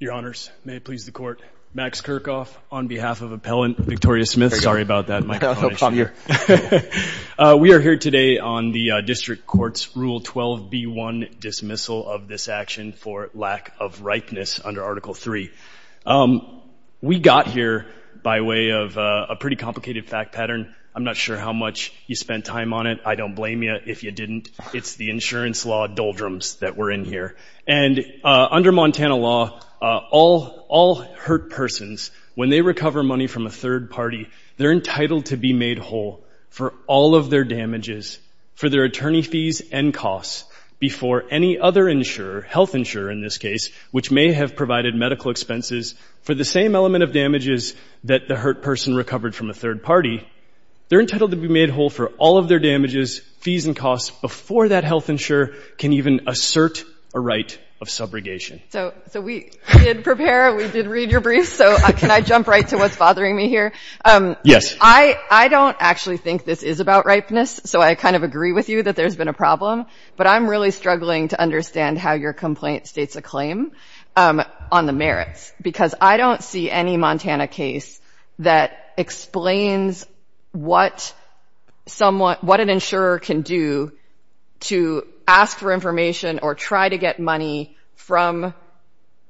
Your Honors, may it please the Court, Max Kirchhoff on behalf of Appellant Victoria Smith. Sorry about that. No problem here. We are here today on the District Court's Rule 12b1, dismissal of this action for lack of ripeness under Article 3. We got here by way of a pretty complicated fact pattern. I'm not sure how much you spent time on it. I don't blame you if you didn't. It's the insurance law doldrums that we're in here. And under Montana law, all hurt persons, when they recover money from a third party, they're entitled to be made whole for all of their damages, for their attorney fees and costs, before any other insurer, health insurer in this case, which may have provided medical expenses for the same element of damages that the hurt person recovered from a third party. They're entitled to be made whole for all of their damages, fees and costs, before that health insurer can even assert a right of subrogation. So we did prepare. We did read your briefs. So can I jump right to what's bothering me here? Yes. I don't actually think this is about ripeness, so I kind of agree with you that there's been a problem. But I'm really struggling to understand how your complaint states a claim on the merits, because I don't see any Montana case that explains what an insurer can do to ask for information or try to get money from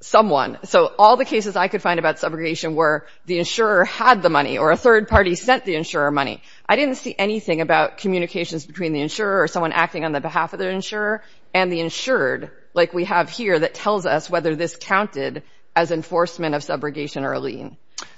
someone. So all the cases I could find about subrogation were the insurer had the money or a third party sent the insurer money. I didn't see anything about communications between the insurer or someone acting on the behalf of the insurer and the insured, like we have here, that tells us whether this counted as enforcement of subrogation or a lien.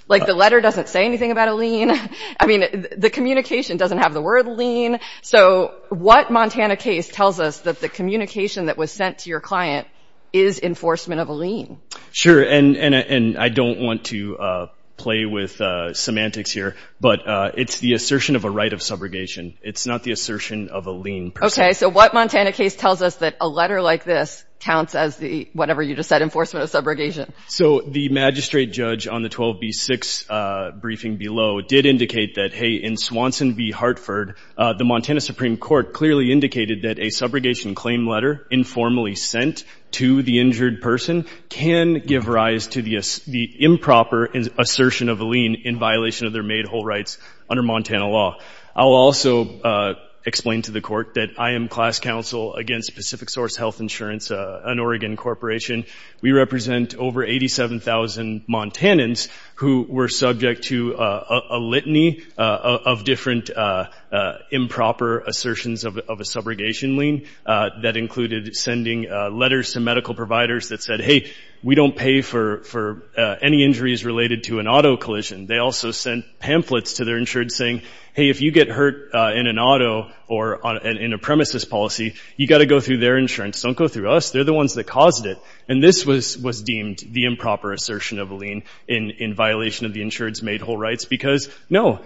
Like the letter doesn't say anything about a lien. I mean, the communication doesn't have the word lien. So what Montana case tells us that the communication that was sent to your client is enforcement of a lien? Sure, and I don't want to play with semantics here, but it's the assertion of a right of subrogation. It's not the assertion of a lien. Okay, so what Montana case tells us that a letter like this counts as the, whatever you just said, enforcement of subrogation? So the magistrate judge on the 12B6 briefing below did indicate that, hey, in Swanson v. Hartford, the Montana Supreme Court clearly indicated that a subrogation claim letter informally sent to the injured person can give rise to the improper assertion of a lien in violation of their made whole rights under Montana law. I'll also explain to the court that I am class counsel against Pacific Source Health Insurance, an Oregon corporation. We represent over 87,000 Montanans who were subject to a litany of different improper assertions of a subrogation lien that included sending letters to medical providers that said, hey, we don't pay for any injuries related to an auto collision. They also sent pamphlets to their insured saying, hey, if you get hurt in an auto or in a premises policy, you've got to go through their insurance. Don't go through us. They're the ones that caused it. And this was deemed the improper assertion of a lien in violation of the insured's made whole rights because, no,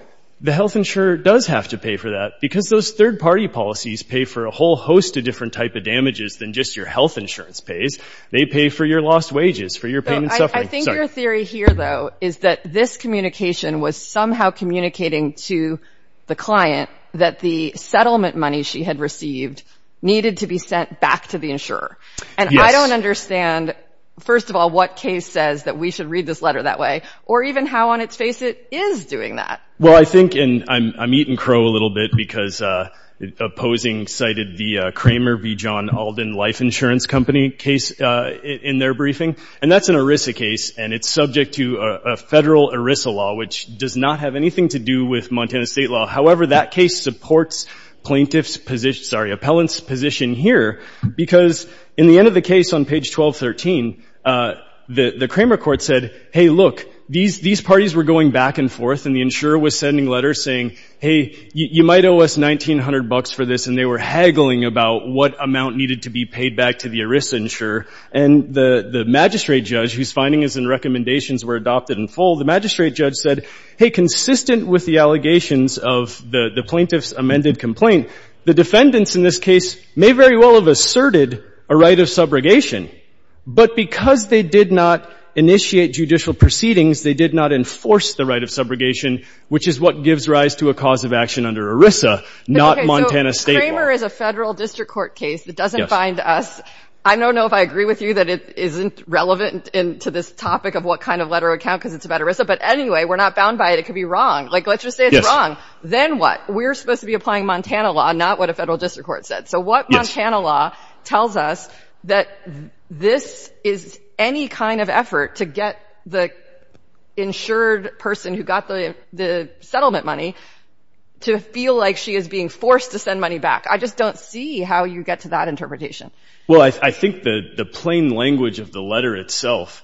the health insurer does have to pay for that because those third-party policies pay for a whole host of different type of damages than just your health insurance pays. They pay for your lost wages, for your pain and suffering. I think your theory here, though, is that this communication was somehow communicating to the client that the settlement money she had received needed to be sent back to the insurer. And I don't understand, first of all, what case says that we should read this letter that way or even how on its face it is doing that. Well, I think, and I'm eating crow a little bit because opposing cited the Kramer v. John Alden Life Insurance Company case in their briefing. And that's an ERISA case, and it's subject to a federal ERISA law, which does not have anything to do with Montana State law. However, that case supports plaintiff's position, sorry, appellant's position here because in the end of the case on page 1213, the Kramer court said, hey, look, these parties were going back and forth, and the insurer was sending letters saying, hey, you might owe us $1,900 for this. And they were haggling about what amount needed to be paid back to the ERISA insurer. And the magistrate judge, whose findings and recommendations were adopted in full, the magistrate judge said, hey, consistent with the allegations of the plaintiff's amended complaint, the defendants in this case may very well have asserted a right of subrogation, but because they did not initiate judicial proceedings, they did not enforce the right of subrogation, which is what gives rise to a cause of action under ERISA, not Montana State law. So if Kramer is a federal district court case that doesn't bind us, I don't know if I agree with you that it isn't relevant to this topic of what kind of letter would count because it's about ERISA, but anyway, we're not bound by it. It could be wrong. Like, let's just say it's wrong. Then what? We're supposed to be applying Montana law, not what a federal district court said. So what Montana law tells us that this is any kind of effort to get the insured person who got the settlement money to feel like she is being forced to send money back. I just don't see how you get to that interpretation. Well, I think the plain language of the letter itself,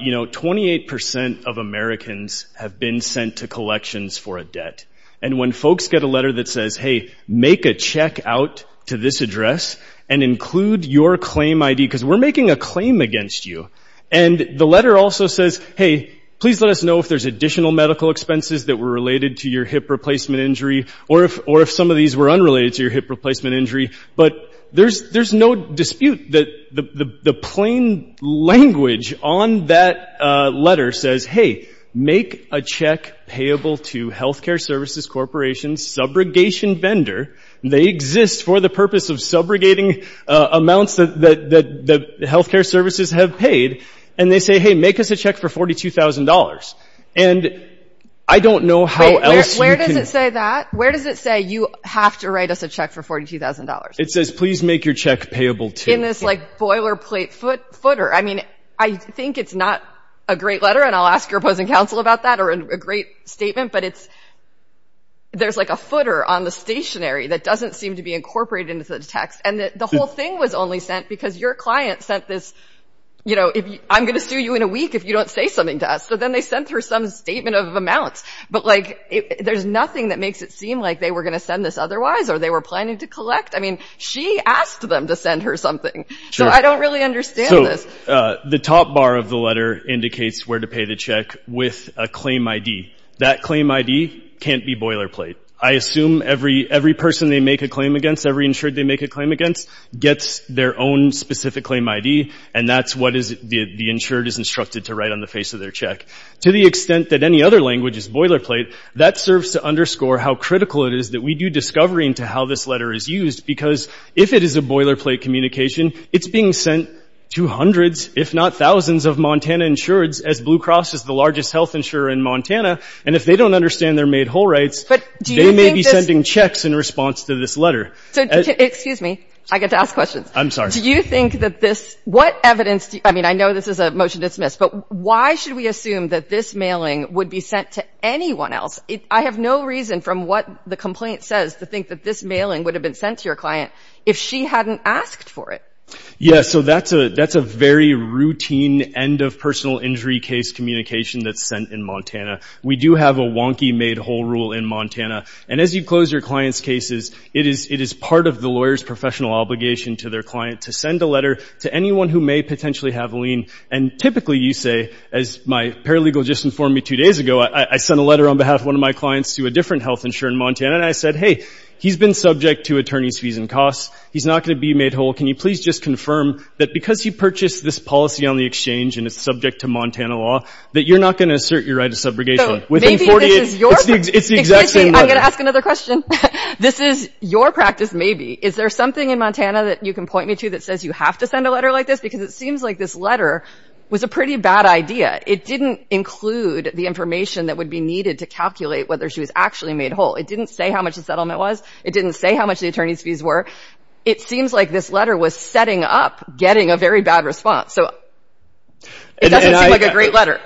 you know, 28 percent of Americans have been sent to collections for a debt, and when folks get a letter that says, hey, make a check out to this address and include your claim ID because we're making a claim against you, and the letter also says, hey, please let us know if there's additional medical expenses that were related to your hip replacement injury or if some of these were unrelated to your hip replacement injury, but there's no dispute that the plain language on that letter says, hey, make a check payable to Healthcare Services Corporation's subrogation vendor. They exist for the purpose of subrogating amounts that healthcare services have paid, and they say, hey, make us a check for $42,000. And I don't know how else you can... Wait, where does it say that? Where does it say you have to write us a check for $42,000? It says, please make your check payable to... In this, like, boilerplate footer. I mean, I think it's not a great letter, and I'll ask your opposing counsel about that or a great statement, but there's, like, a footer on the stationary that doesn't seem to be incorporated into the text, and the whole thing was only sent because your client sent this, you know, I'm going to sue you in a week if you don't say something to us. So then they sent her some statement of amounts, but, like, there's nothing that makes it seem like they were going to send this otherwise or they were planning to collect. I mean, she asked them to send her something, so I don't really understand this. So the top bar of the letter indicates where to pay the check with a claim ID. That claim ID can't be boilerplate. I assume every person they make a claim against, every insured they make a claim against, gets their own specific claim ID, and that's what the insured is instructed to write on the face of their check. To the extent that any other language is boilerplate, that serves to underscore how critical it is that we do discovery into how this letter is used, because if it is a boilerplate communication, it's being sent to hundreds, if not thousands, of Montana insureds, as Blue Cross is the largest health insurer in Montana, and if they don't understand their made whole rights, they may be sending checks in response to this letter. So, excuse me, I get to ask questions. I'm sorry. Do you think that this, what evidence, I mean, I know this is a motion to dismiss, but why should we assume that this mailing would be sent to anyone else? I have no reason from what the complaint says to think that this mailing would have been sent to your client if she hadn't asked for it. Yeah, so that's a very routine end of personal injury case communication that's sent in Montana. We do have a wonky made whole rule in Montana, and as you close your client's cases, it is part of the lawyer's professional obligation to their client to send a letter to anyone who may potentially have a lien, and typically, you say, as my paralegal just informed me two days ago, I sent a letter on behalf of one of my clients to a different health insurer in Montana, and I said, hey, he's been subject to attorney's fees and costs. He's not going to be made whole. Can you please just confirm that because you purchased this policy on the exchange and it's subject to Montana law that you're not going to assert your right of subrogation? Maybe this is your practice. It's the exact same letter. Excuse me. I'm going to ask another question. This is your practice maybe. Is there something in Montana that you can point me to that says you have to send a letter like this? Because it seems like this letter was a pretty bad idea. It didn't include the information that would be needed to calculate whether she was actually made whole. It didn't say how much the settlement was. It didn't say how much the attorney's fees were. It seems like this letter was setting up getting a very bad response. So it doesn't seem like a great letter.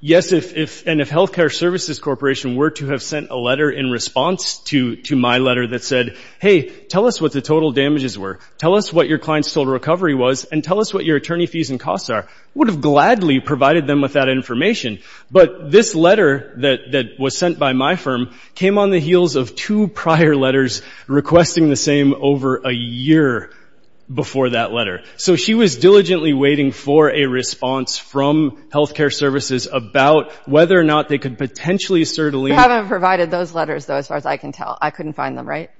Yes, and if Health Care Services Corporation were to have sent a letter in response to my letter that said, hey, tell us what the total damages were, tell us what your client's total recovery was, and tell us what your attorney fees and costs are, I would have gladly provided them with that information. But this letter that was sent by my firm came on the heels of two prior letters requesting the same over a year before that letter. So she was diligently waiting for a response from Health Care Services about whether or not they could potentially certainly You haven't provided those letters, though, as far as I can tell. I couldn't find them, right?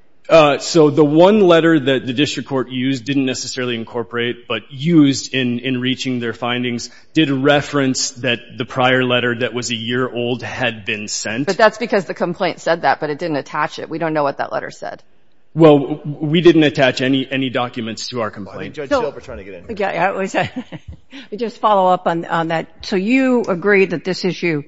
So the one letter that the district court used, didn't necessarily incorporate, but used in reaching their findings did reference that the prior letter that was a year old had been sent. But that's because the complaint said that, but it didn't attach it. We don't know what that letter said. Well, we didn't attach any documents to our complaint. Judge Gilbert's trying to get in. Let me just follow up on that. So you agree that this issue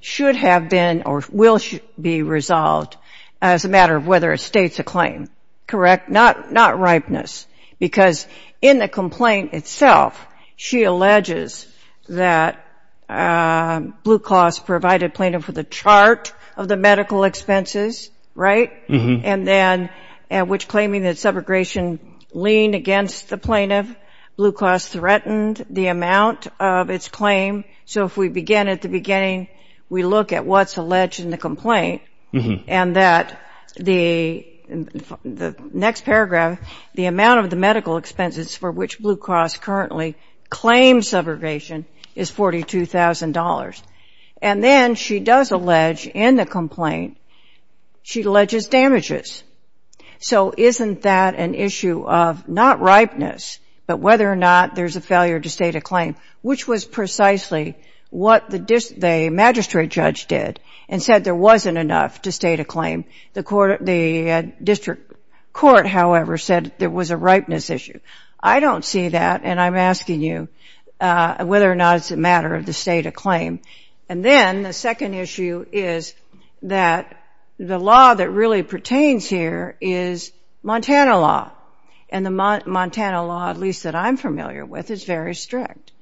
should have been or will be resolved as a matter of whether it states a claim, correct? Not ripeness. Because in the complaint itself, she alleges that Blue Cross provided plaintiff with a chart of the medical expenses, right, and then which claiming that subrogation leaned against the plaintiff. Blue Cross threatened the amount of its claim. So if we begin at the beginning, we look at what's alleged in the complaint and that the next paragraph, the amount of the medical expenses for which Blue Cross currently claims subrogation is $42,000. And then she does allege in the complaint, she alleges damages. So isn't that an issue of not ripeness, but whether or not there's a failure to state a claim, which was precisely what the magistrate judge did and said there wasn't enough to state a claim. The district court, however, said there was a ripeness issue. I don't see that, and I'm asking you whether or not it's a matter of the state of claim. And then the second issue is that the law that really pertains here is Montana law. And the Montana law, at least that I'm familiar with, is very strict.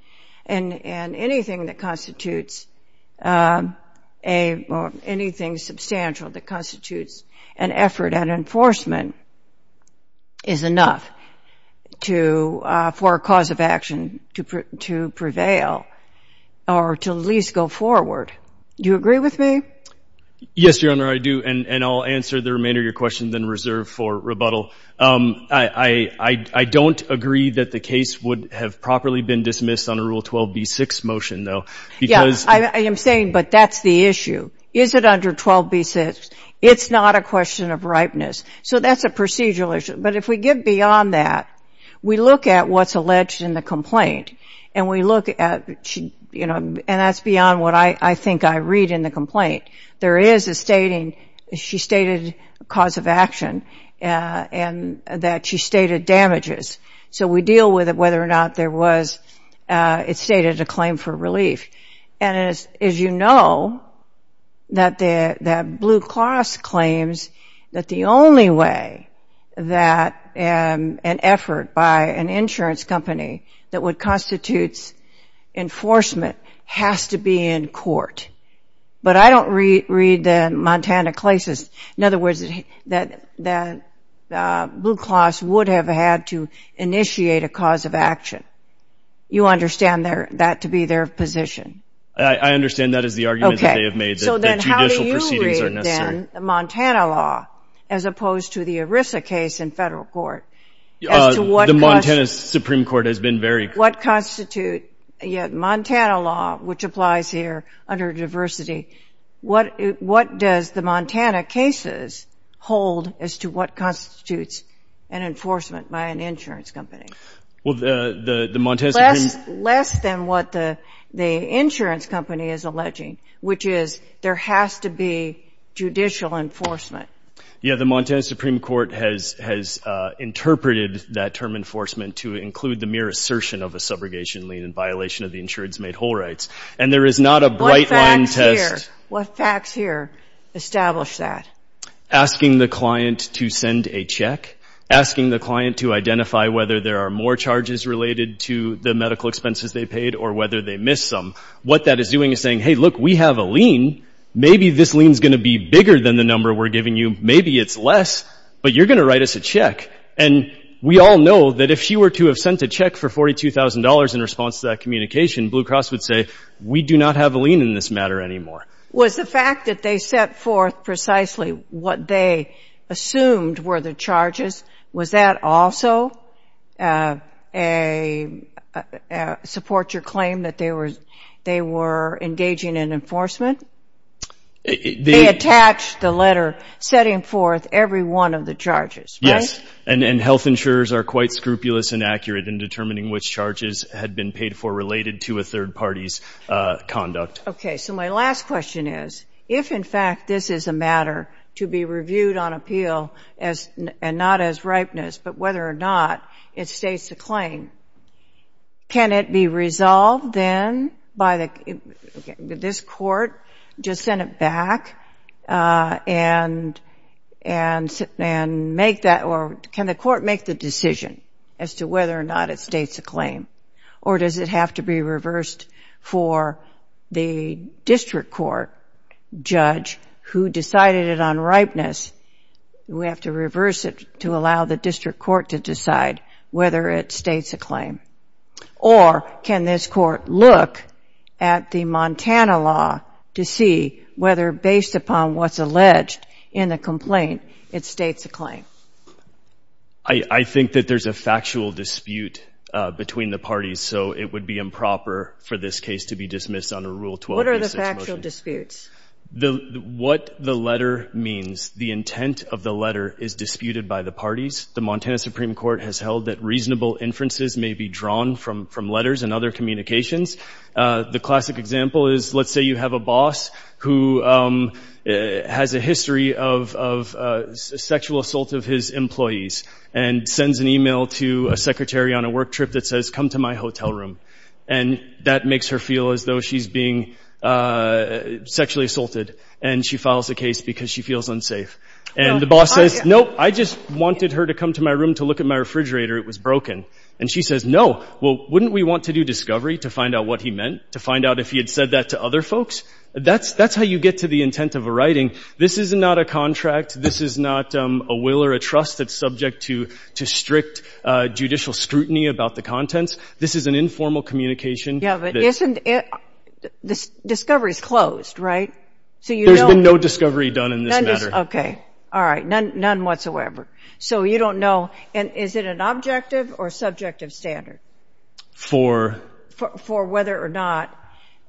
And anything that constitutes a, or anything substantial that constitutes an effort at enforcement is enough to, for a cause of action to prevail or to at least go forward. Do you agree with me? Yes, Your Honor, I do. And I'll answer the remainder of your question, then reserve for rebuttal. I don't agree that the case would have properly been dismissed under Rule 12b-6 motion, though. Yeah, I am saying, but that's the issue. Is it under 12b-6? It's not a question of ripeness. So that's a procedural issue. But if we get beyond that, we look at what's alleged in the complaint, and we look at, you know, and that's beyond what I think I read in the complaint. There is a stating, she stated cause of action, and that she stated damages. So we deal with it, whether or not there was, it stated a claim for relief. And as you know, that Blue Cross claims that the only way that an effort by an insurance company that would constitute enforcement has to be in court. But I don't read the Montana classes. In other words, that Blue Cross would have had to initiate a cause of action. You understand that to be their position? I understand that is the argument that they have made, that judicial proceedings are necessary. Okay, so then how do you read, then, the Montana law, as opposed to the ERISA case in federal court, as to what constitutes The Montana Supreme Court has been very What constitute, yeah, Montana law, which applies here under diversity, what does the Montana cases hold as to what constitutes an enforcement by an insurance company? Well, the Montana Supreme Less than what the insurance company is alleging, which is there has to be judicial enforcement. Yeah, the Montana Supreme Court has interpreted that term enforcement to include the mere assertion of a subrogation lien in violation of the insurance made whole rights. And there is not a bright line test. What facts here establish that? Asking the client to send a check, asking the client to identify whether there are more charges related to the medical expenses they paid or whether they missed some. What that is doing is saying, hey, look, we have a lien. Maybe this lien is going to be bigger than the number we're giving you. Maybe it's less, but you're going to write us a check. And we all know that if she were to have sent a check for $42,000 in response to that communication, Blue Cross would say, we do not have a lien in this matter anymore. Was the fact that they set forth precisely what they assumed were the charges, was that also a support your claim that they were engaging in enforcement? They attached the letter setting forth every one of the charges, right? Yes, and health insurers are quite scrupulous and accurate in determining which charges had been paid for related to a third party's conduct. Okay, so my last question is, if, in fact, this is a matter to be reviewed on appeal and not as ripeness, but whether or not it states the claim, can it be resolved then by this court to send it back and make that or can the court make the decision as to whether or not it states the claim? Or does it have to be reversed for the district court judge who decided it on ripeness? Do we have to reverse it to allow the district court to decide whether it states a claim? Or can this court look at the Montana law to see whether, based upon what's alleged in the complaint, it states a claim? I think that there's a factual dispute between the parties, so it would be improper for this case to be dismissed under Rule 12. What are the factual disputes? What the letter means. The intent of the letter is disputed by the parties. The Montana Supreme Court has held that reasonable inferences may be drawn from letters and other communications. The classic example is, let's say you have a boss who has a history of sexual assault of his employees and sends an email to a secretary on a work trip that says, come to my hotel room. And that makes her feel as though she's being sexually assaulted, and she files a case because she feels unsafe. And the boss says, nope, I just wanted her to come to my room to look at my refrigerator. It was broken. And she says, no. Well, wouldn't we want to do discovery to find out what he meant, to find out if he had said that to other folks? That's how you get to the intent of a writing. This is not a contract. This is not a will or a trust that's subject to strict judicial scrutiny about the contents. This is an informal communication. Yeah, but isn't it – discovery's closed, right? There's been no discovery done in this matter. Okay. All right. None whatsoever. So you don't know – and is it an objective or subjective standard? For? For whether or not,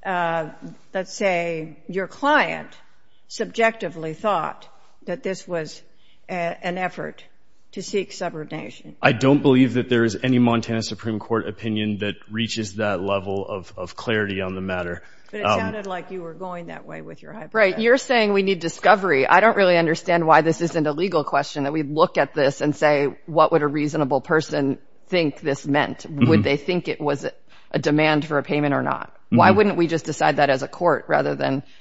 let's say, your client subjectively thought that this was an effort to seek subordination. I don't believe that there is any Montana Supreme Court opinion that reaches that level of clarity on the matter. But it sounded like you were going that way with your hypothesis. Right. You're saying we need discovery. I don't really understand why this isn't a legal question, that we look at this and say, what would a reasonable person think this meant? Would they think it was a demand for a payment or not? Why wouldn't we just decide that as a court rather than –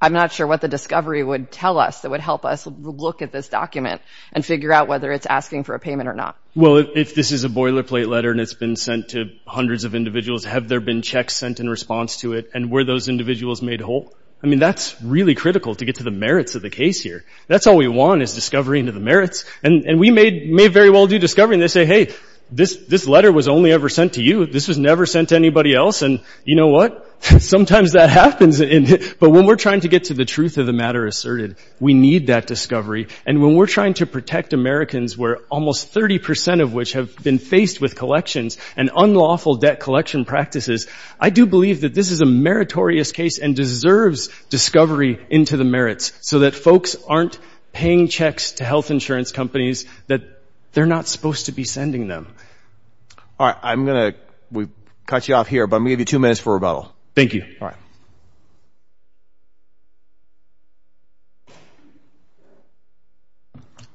I'm not sure what the discovery would tell us that would help us look at this document and figure out whether it's asking for a payment or not. Well, if this is a boilerplate letter and it's been sent to hundreds of individuals, have there been checks sent in response to it, and were those individuals made whole? I mean, that's really critical to get to the merits of the case here. That's all we want is discovery into the merits. And we may very well do discovery and they say, hey, this letter was only ever sent to you. This was never sent to anybody else. And you know what? Sometimes that happens. But when we're trying to get to the truth of the matter asserted, we need that discovery. And when we're trying to protect Americans, where almost 30 percent of which have been faced with collections and unlawful debt collection practices, I do believe that this is a meritorious case and deserves discovery into the merits so that folks aren't paying checks to health insurance companies that they're not supposed to be sending them. All right. I'm going to cut you off here, but I'm going to give you two minutes for rebuttal. Thank you. All right.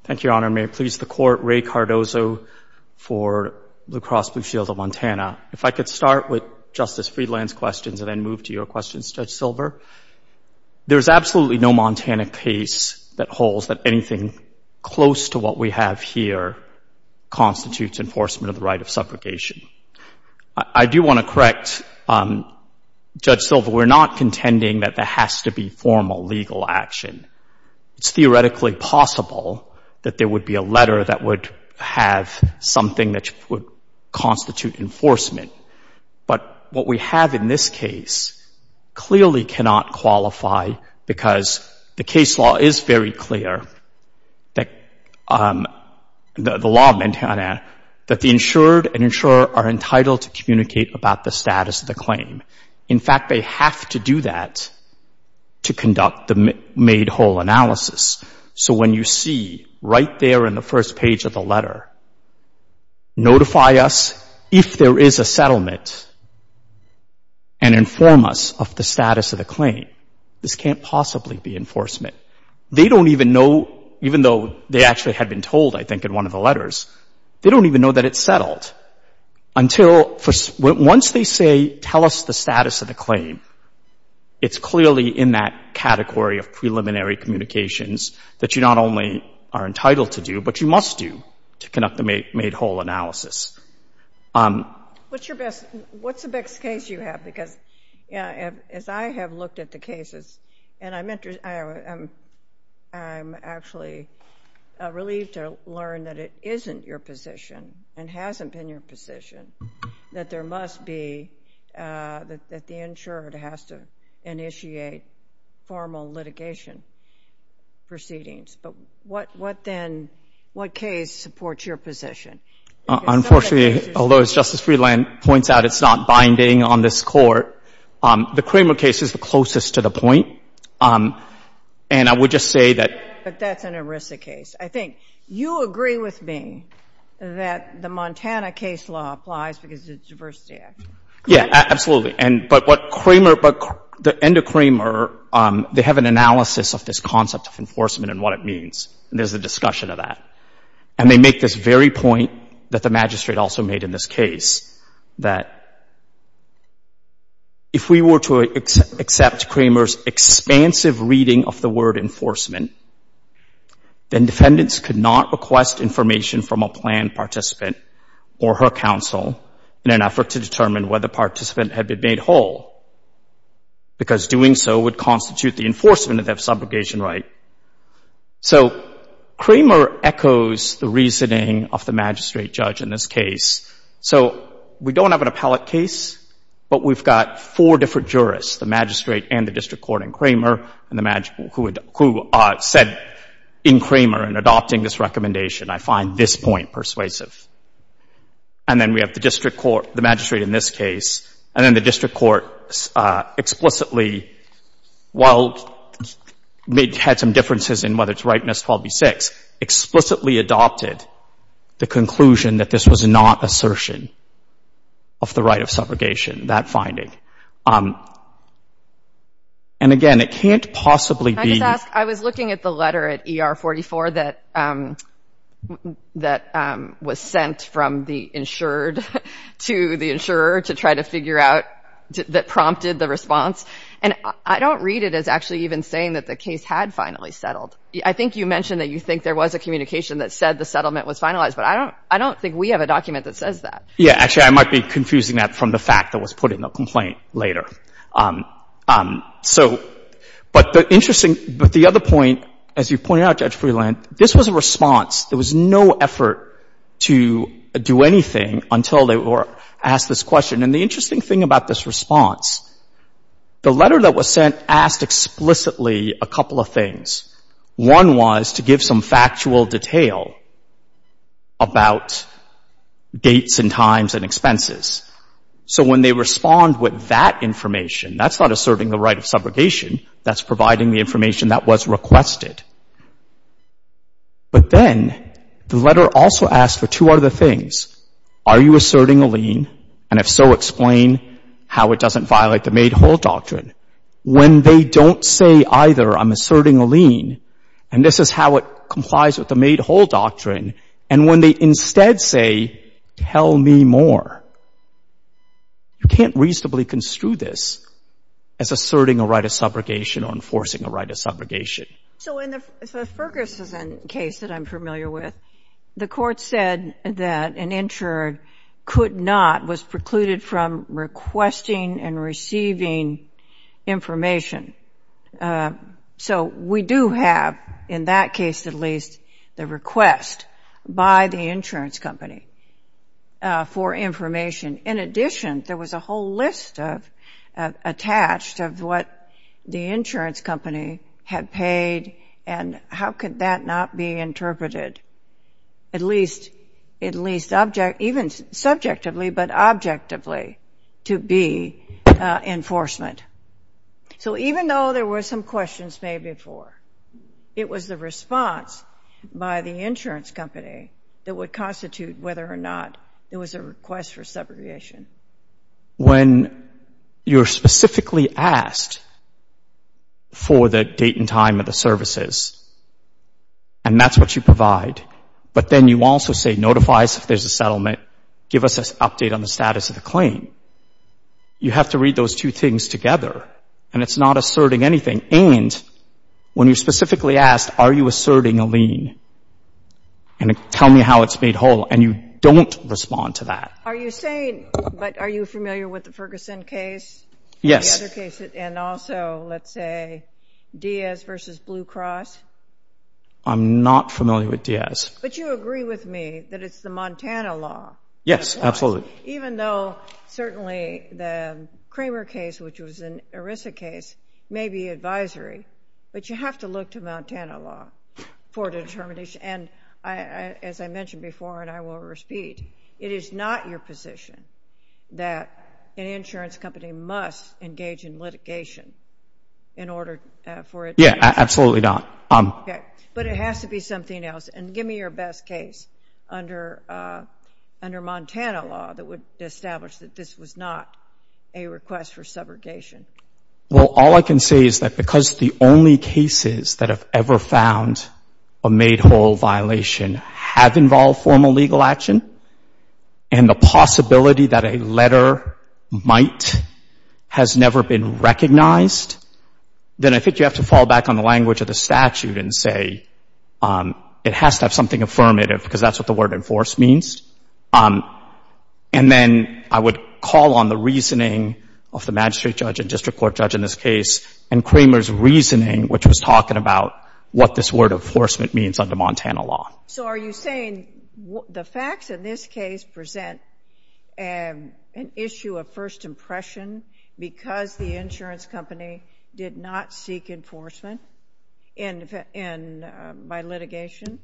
Thank you, Your Honor. May it please the Court, Ray Cardozo for La Crosse Blue Shield of Montana. If I could start with Justice Friedland's questions and then move to your questions, Judge Silver. There's absolutely no Montana case that holds that anything close to what we have here constitutes enforcement of the right of suffragation. I do want to correct Judge Silver. We're not contending that there has to be formal legal action. It's theoretically possible that there would be a letter that would have something that would constitute enforcement, but what we have in this case clearly cannot qualify because the case law is very clear, the law of Montana, that the insured and insurer are entitled to communicate about the status of the claim. In fact, they have to do that to conduct the made whole analysis. So when you see right there in the first page of the letter, notify us if there is a settlement and inform us of the status of the claim. This can't possibly be enforcement. They don't even know, even though they actually had been told, I think, in one of the letters, they don't even know that it's settled until once they say tell us the status of the claim, it's clearly in that category of preliminary communications that you not only are entitled to do, but you must do to conduct the made whole analysis. What's the best case you have? Because as I have looked at the cases, and I'm actually relieved to learn that it isn't your position and hasn't been your position, that there must be, that the insured has to initiate formal litigation proceedings. But what then, what case supports your position? Unfortunately, although, as Justice Friedland points out, it's not binding on this court, the Kramer case is the closest to the point, and I would just say that. But that's an ERISA case. I think you agree with me that the Montana case law applies because it's a diversity act. Yeah, absolutely. But what Kramer, the end of Kramer, they have an analysis of this concept of enforcement and what it means, and there's a discussion of that. And they make this very point that the magistrate also made in this case, that if we were to accept Kramer's expansive reading of the word enforcement, then defendants could not request information from a planned participant or her counsel in an effort to determine whether the participant had been made whole, because doing so would constitute the enforcement of their subrogation right. So Kramer echoes the reasoning of the magistrate judge in this case. So we don't have an appellate case, but we've got four different jurists, the magistrate and the district court in Kramer, who said in Kramer in adopting this recommendation, I find this point persuasive. And then we have the district court, the magistrate in this case, and then the district court explicitly, while it had some differences in whether it's right in 12B6, explicitly adopted the conclusion that this was not assertion of the right of subrogation, that finding. And again, it can't possibly be— Can I just ask, I was looking at the letter at ER44 that was sent from the insured to the insurer to try to figure out that prompted the response, and I don't read it as actually even saying that the case had finally settled. I think you mentioned that you think there was a communication that said the settlement was finalized, but I don't think we have a document that says that. Yeah. Actually, I might be confusing that from the fact that was put in the complaint later. So, but the interesting — but the other point, as you pointed out, Judge Freeland, this was a response. There was no effort to do anything until they were asked this question. And the interesting thing about this response, the letter that was sent asked explicitly a couple of things. One was to give some factual detail about dates and times and expenses. So when they respond with that information, that's not asserting the right of subrogation. That's providing the information that was requested. But then the letter also asked for two other things. Are you asserting a lien? And if so, explain how it doesn't violate the made-whole doctrine. When they don't say either, I'm asserting a lien, and this is how it complies with the made-whole doctrine, and when they instead say, tell me more, you can't reasonably construe this as asserting a right of subrogation or enforcing a right of subrogation. So in the Ferguson case that I'm familiar with, the Court said that an insurer could not, was precluded from requesting and receiving information. So we do have, in that case at least, the request by the insurance company for information. In addition, there was a whole list attached of what the insurance company had paid and how could that not be interpreted, at least subjectively, but objectively to be enforcement. So even though there were some questions made before, it was the response by the insurance company that would constitute whether or not there was a request for subrogation. When you're specifically asked for the date and time of the services, and that's what you provide, but then you also say, notifies if there's a settlement, give us an update on the status of the claim, you have to read those two things together, and it's not asserting anything. And when you're specifically asked, are you asserting a lien, and tell me how it's made whole, and you don't respond to that. Are you saying, but are you familiar with the Ferguson case? Yes. The other case, and also, let's say, Diaz v. Blue Cross? I'm not familiar with Diaz. But you agree with me that it's the Montana law. Yes, absolutely. Even though, certainly, the Kramer case, which was an ERISA case, may be advisory, but you have to look to Montana law for determination. And as I mentioned before, and I will repeat, it is not your position that an insurance company must engage in litigation in order for it to be enforced. Yeah, absolutely not. Okay, but it has to be something else, and give me your best case under Montana law that would establish that this was not a request for subrogation. Well, all I can say is that because the only cases that have ever found a made whole violation have involved formal legal action, and the possibility that a letter might has never been recognized, then I think you have to fall back on the language of the statute and say it has to have something affirmative because that's what the word enforced means. And then I would call on the reasoning of the magistrate judge and district court judge in this case and Kramer's reasoning, which was talking about what this word enforcement means under Montana law. So are you saying the facts in this case present an issue of first impression because the insurance company did not seek enforcement by litigation?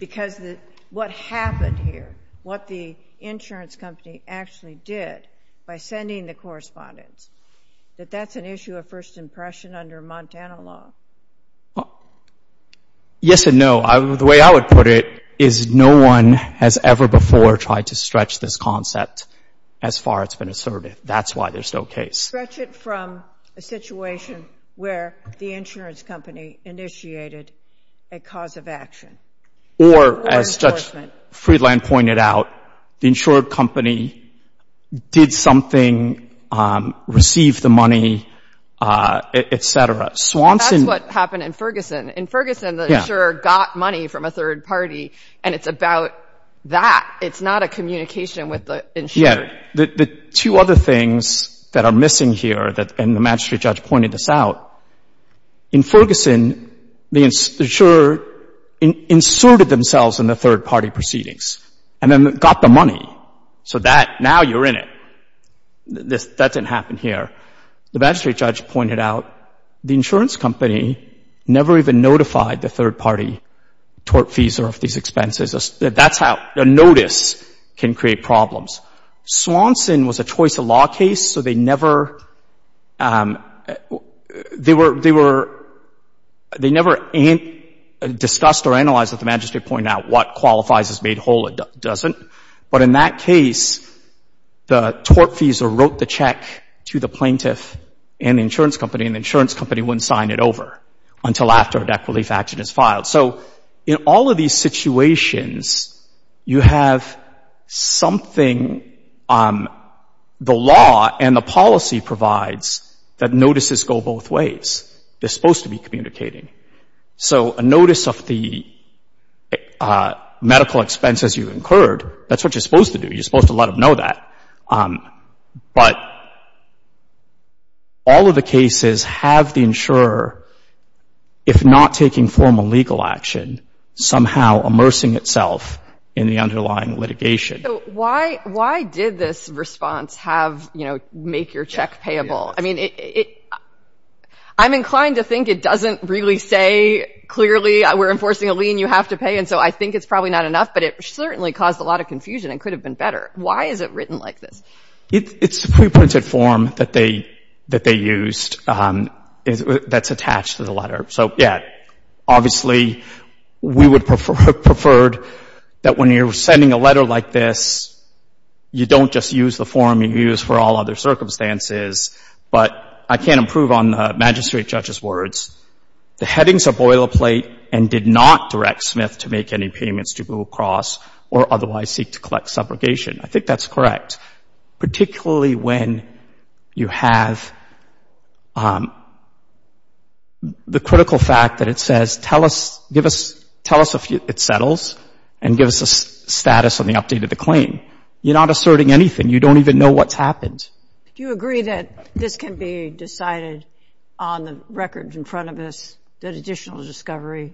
Because what happened here, what the insurance company actually did by sending the correspondence, that that's an issue of first impression under Montana law? Yes and no. The way I would put it is no one has ever before tried to stretch this concept as far as it's been asserted. That's why there's no case. Stretch it from a situation where the insurance company initiated a cause of action. Or as Judge Friedland pointed out, the insured company did something, received the money, et cetera. That's what happened in Ferguson. In Ferguson, the insurer got money from a third party, and it's about that. It's not a communication with the insurer. The two other things that are missing here, and the magistrate judge pointed this out, in Ferguson, the insurer inserted themselves in the third party proceedings and then got the money. So that, now you're in it. That didn't happen here. The magistrate judge pointed out the insurance company never even notified the third party tortfeasor of these expenses. That's how a notice can create problems. Swanson was a choice of law case, so they never discussed or analyzed what the magistrate pointed out. What qualifies is made whole, what doesn't. But in that case, the tortfeasor wrote the check to the plaintiff and the insurance company, and the insurance company wouldn't sign it over until after a debt relief action is filed. So in all of these situations, you have something the law and the policy provides that notices go both ways. They're supposed to be communicating. So a notice of the medical expenses you incurred, that's what you're supposed to do. You're supposed to let them know that. But all of the cases have the insurer, if not taking formal legal action, somehow immersing itself in the underlying litigation. So why did this response have, you know, make your check payable? I mean, I'm inclined to think it doesn't really say clearly we're enforcing a lien, you have to pay, and so I think it's probably not enough, but it certainly caused a lot of confusion and could have been better. Why is it written like this? It's a preprinted form that they used that's attached to the letter. So, yeah, obviously we would have preferred that when you're sending a letter like this, you don't just use the form you use for all other circumstances, but I can't improve on the magistrate judge's words. The headings are boilerplate and did not direct Smith to make any payments to Google Cross or otherwise seek to collect subrogation. I think that's correct, particularly when you have the critical fact that it says, tell us if it settles and give us a status on the update of the claim. You're not asserting anything. You don't even know what's happened. Do you agree that this can be decided on the records in front of us, that additional discovery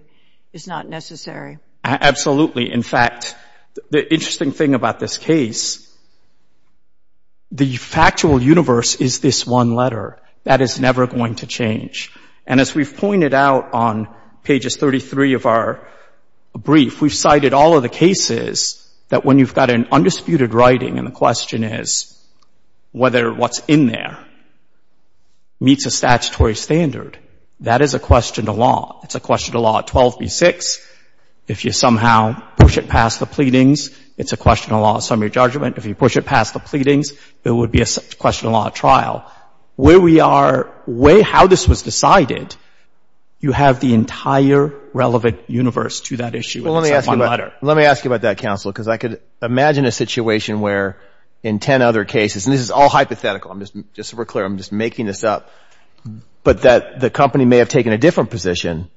is not necessary? Absolutely. In fact, the interesting thing about this case, the factual universe is this one letter. That is never going to change. And as we've pointed out on pages 33 of our brief, we've cited all of the cases that when you've got an undisputed writing and the question is whether what's in there meets a statutory standard, that is a question to law. It's a question to law 12B6. If you somehow push it past the pleadings, it's a question to law summary judgment. If you push it past the pleadings, it would be a question to law trial. Where we are, how this was decided, you have the entire relevant universe to that issue. Let me ask you about that, counsel, because I could imagine a situation where in 10 other cases, and this is all hypothetical, I'm just super clear, I'm just making this up, but that the company may have taken a different position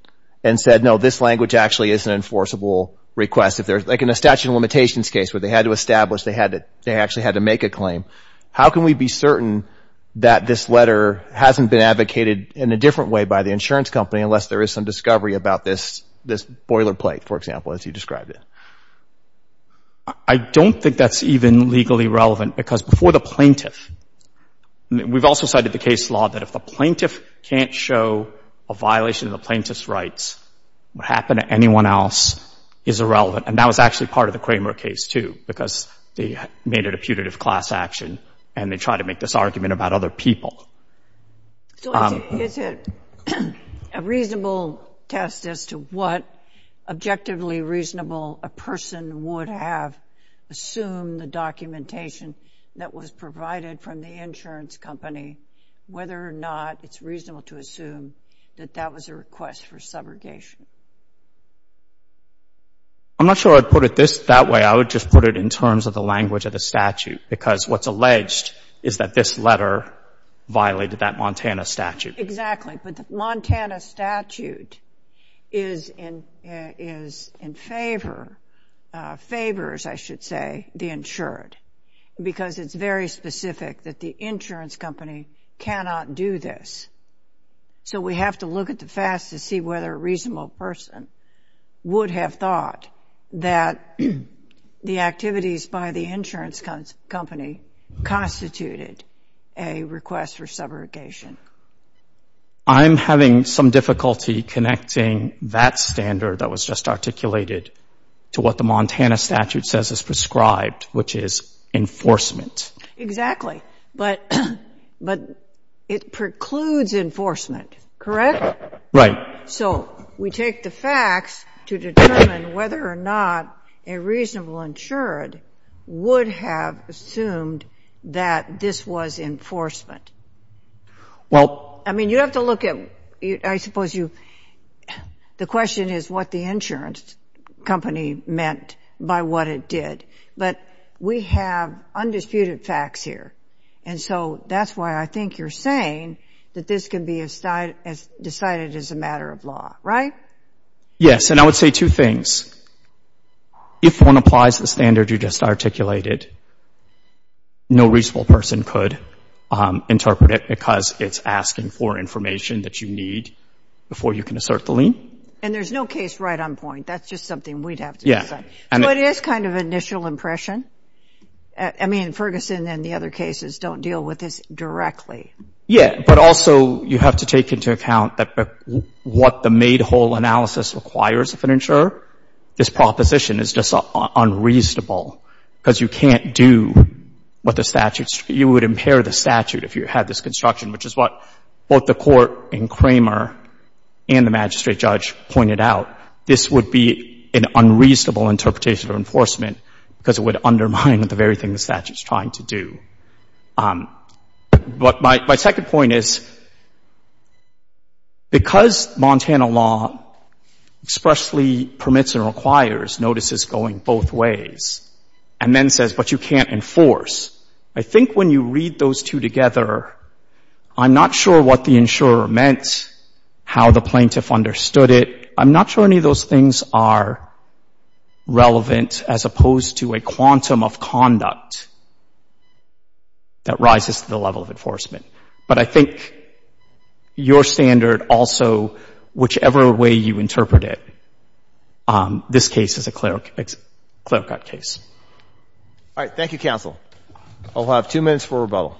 and said, no, this language actually is an enforceable request. Like in a statute of limitations case where they had to establish, they actually had to make a claim. How can we be certain that this letter hasn't been advocated in a different way by the insurance company unless there is some discovery about this boilerplate, for example, as you described it? I don't think that's even legally relevant because before the plaintiff, we've also cited the case law that if the plaintiff can't show a violation of the plaintiff's rights, what happened to anyone else is irrelevant. And that was actually part of the Kramer case, too, because they made it a putative class action and they tried to make this argument about other people. So is it a reasonable test as to what objectively reasonable a person would have assumed the documentation that was provided from the insurance company, whether or not it's reasonable to assume that that was a request for subrogation? I'm not sure I'd put it that way. I would just put it in terms of the language of the statute because what's alleged is that this letter violated that Montana statute. Exactly, but the Montana statute is in favor, favors, I should say, the insured because it's very specific that the insurance company cannot do this. So we have to look at the facts to see whether a reasonable person would have thought that the activities by the insurance company constituted a request for subrogation. I'm having some difficulty connecting that standard that was just articulated to what the Montana statute says is prescribed, which is enforcement. Exactly, but it precludes enforcement, correct? Right. So we take the facts to determine whether or not a reasonable insured would have assumed that this was enforcement. Well, I mean, you have to look at, I suppose you, the question is what the insurance company meant by what it did. But we have undisputed facts here, and so that's why I think you're saying that this can be decided as a matter of law, right? Yes, and I would say two things. If one applies the standard you just articulated, no reasonable person could interpret it because it's asking for information that you need before you can assert the lien. And there's no case right on point. That's just something we'd have to decide. So it is kind of an initial impression. I mean, Ferguson and the other cases don't deal with this directly. Yeah, but also you have to take into account that what the made-whole analysis requires of an insurer, this proposition is just unreasonable because you can't do what the statute you would impair the statute if you had this construction, which is what both the Court and Cramer and the magistrate judge pointed out. This would be an unreasonable interpretation of enforcement because it would undermine the very thing the statute is trying to do. But my second point is because Montana law expressly permits and requires notices going both ways and then says, but you can't enforce, I think when you read those two together, I'm not sure what the insurer meant, how the plaintiff understood it. I'm not sure any of those things are relevant as opposed to a quantum of conduct that rises to the level of enforcement. But I think your standard also, whichever way you interpret it, this case is a clear-cut case. All right. Thank you, counsel. I'll have two minutes for rebuttal.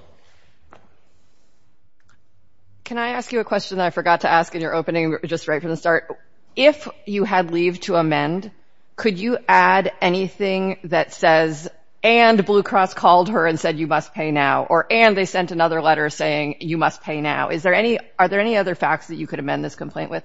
Can I ask you a question that I forgot to ask in your opening just right from the start? If you had leave to amend, could you add anything that says, and Blue Cross called her and said you must pay now, or and they sent another letter saying you must pay now? Are there any other facts that you could amend this complaint with?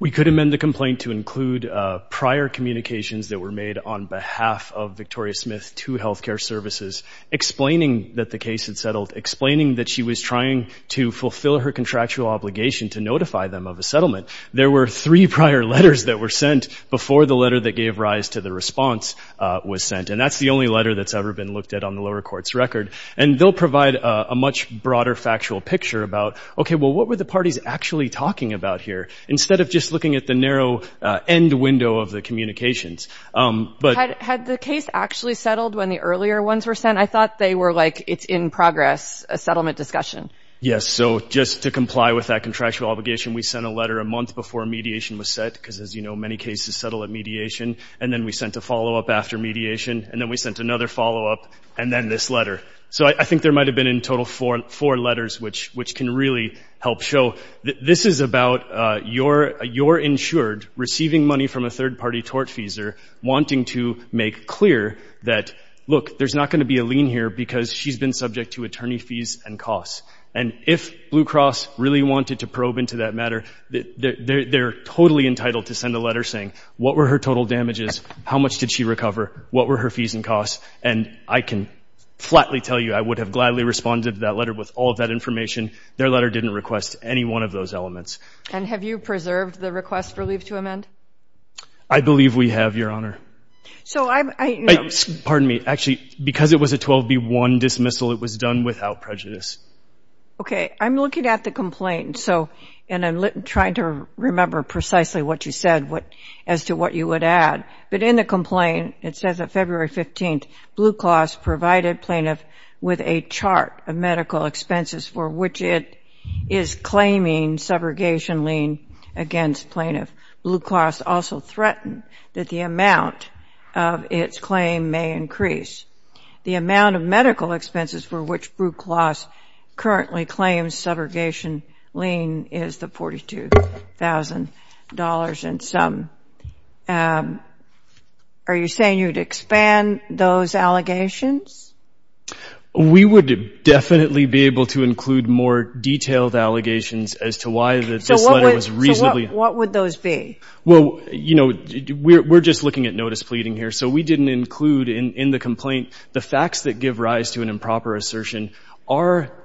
We could amend the complaint to include prior communications that were made on behalf of Victoria Smith to health care services, explaining that the case had settled, explaining that she was trying to fulfill her contractual obligation to notify them of a settlement. There were three prior letters that were sent before the letter that gave rise to the response was sent, and that's the only letter that's ever been looked at on the lower court's record. And they'll provide a much broader factual picture about, okay, well, what were the parties actually talking about here, instead of just looking at the narrow end window of the communications. Had the case actually settled when the earlier ones were sent? I thought they were like, it's in progress, a settlement discussion. Yes, so just to comply with that contractual obligation, we sent a letter a month before mediation was set because, as you know, many cases settle at mediation, and then we sent a follow-up after mediation, and then we sent another follow-up, and then this letter. So I think there might have been in total four letters, which can really help show. This is about your insured receiving money from a third-party tortfeasor wanting to make clear that, look, there's not going to be a lien here because she's been subject to attorney fees and costs. And if Blue Cross really wanted to probe into that matter, they're totally entitled to send a letter saying what were her total damages, how much did she recover, what were her fees and costs, and I can flatly tell you I would have gladly responded to that letter with all of that information. Their letter didn't request any one of those elements. And have you preserved the request for leave to amend? I believe we have, Your Honor. So I'm – Pardon me. Actually, because it was a 12B1 dismissal, it was done without prejudice. Okay. I'm looking at the complaint, and I'm trying to remember precisely what you said as to what you would add. But in the complaint, it says that February 15th, Blue Cross provided plaintiff with a chart of medical expenses for which it is claiming subrogation lien against plaintiff. Blue Cross also threatened that the amount of its claim may increase. The amount of medical expenses for which Blue Cross currently claims subrogation lien is the $42,000 in sum. Are you saying you would expand those allegations? We would definitely be able to include more detailed allegations as to why this letter was reasonably – So what would those be? Well, you know, we're just looking at notice pleading here. So we didn't include in the complaint the facts that give rise to an improper assertion.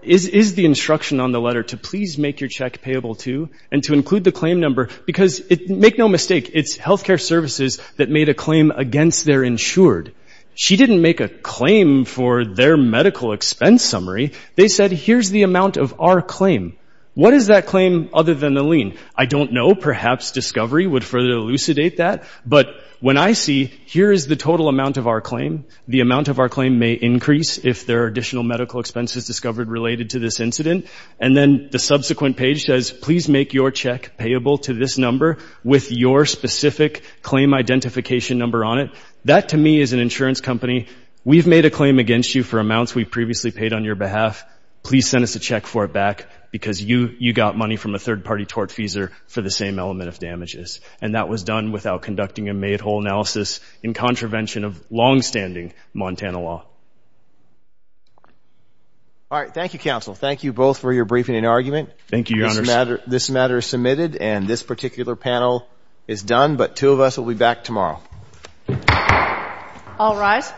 Is the instruction on the letter to please make your check payable, too, and to include the claim number? Because make no mistake, it's health care services that made a claim against their insured. She didn't make a claim for their medical expense summary. They said, here's the amount of our claim. What is that claim other than the lien? I don't know. Perhaps discovery would further elucidate that. But when I see, here is the total amount of our claim. The amount of our claim may increase if there are additional medical expenses discovered related to this incident. And then the subsequent page says, please make your check payable to this number with your specific claim identification number on it. That, to me, is an insurance company. We've made a claim against you for amounts we've previously paid on your behalf. Please send us a check for it back because you got money from a third-party tortfeasor for the same element of damages. And that was done without conducting a made-whole analysis in contravention of longstanding Montana law. All right. Thank you, counsel. Thank you both for your briefing and argument. Thank you, Your Honors. This matter is submitted, and this particular panel is done. But two of us will be back tomorrow. All rise.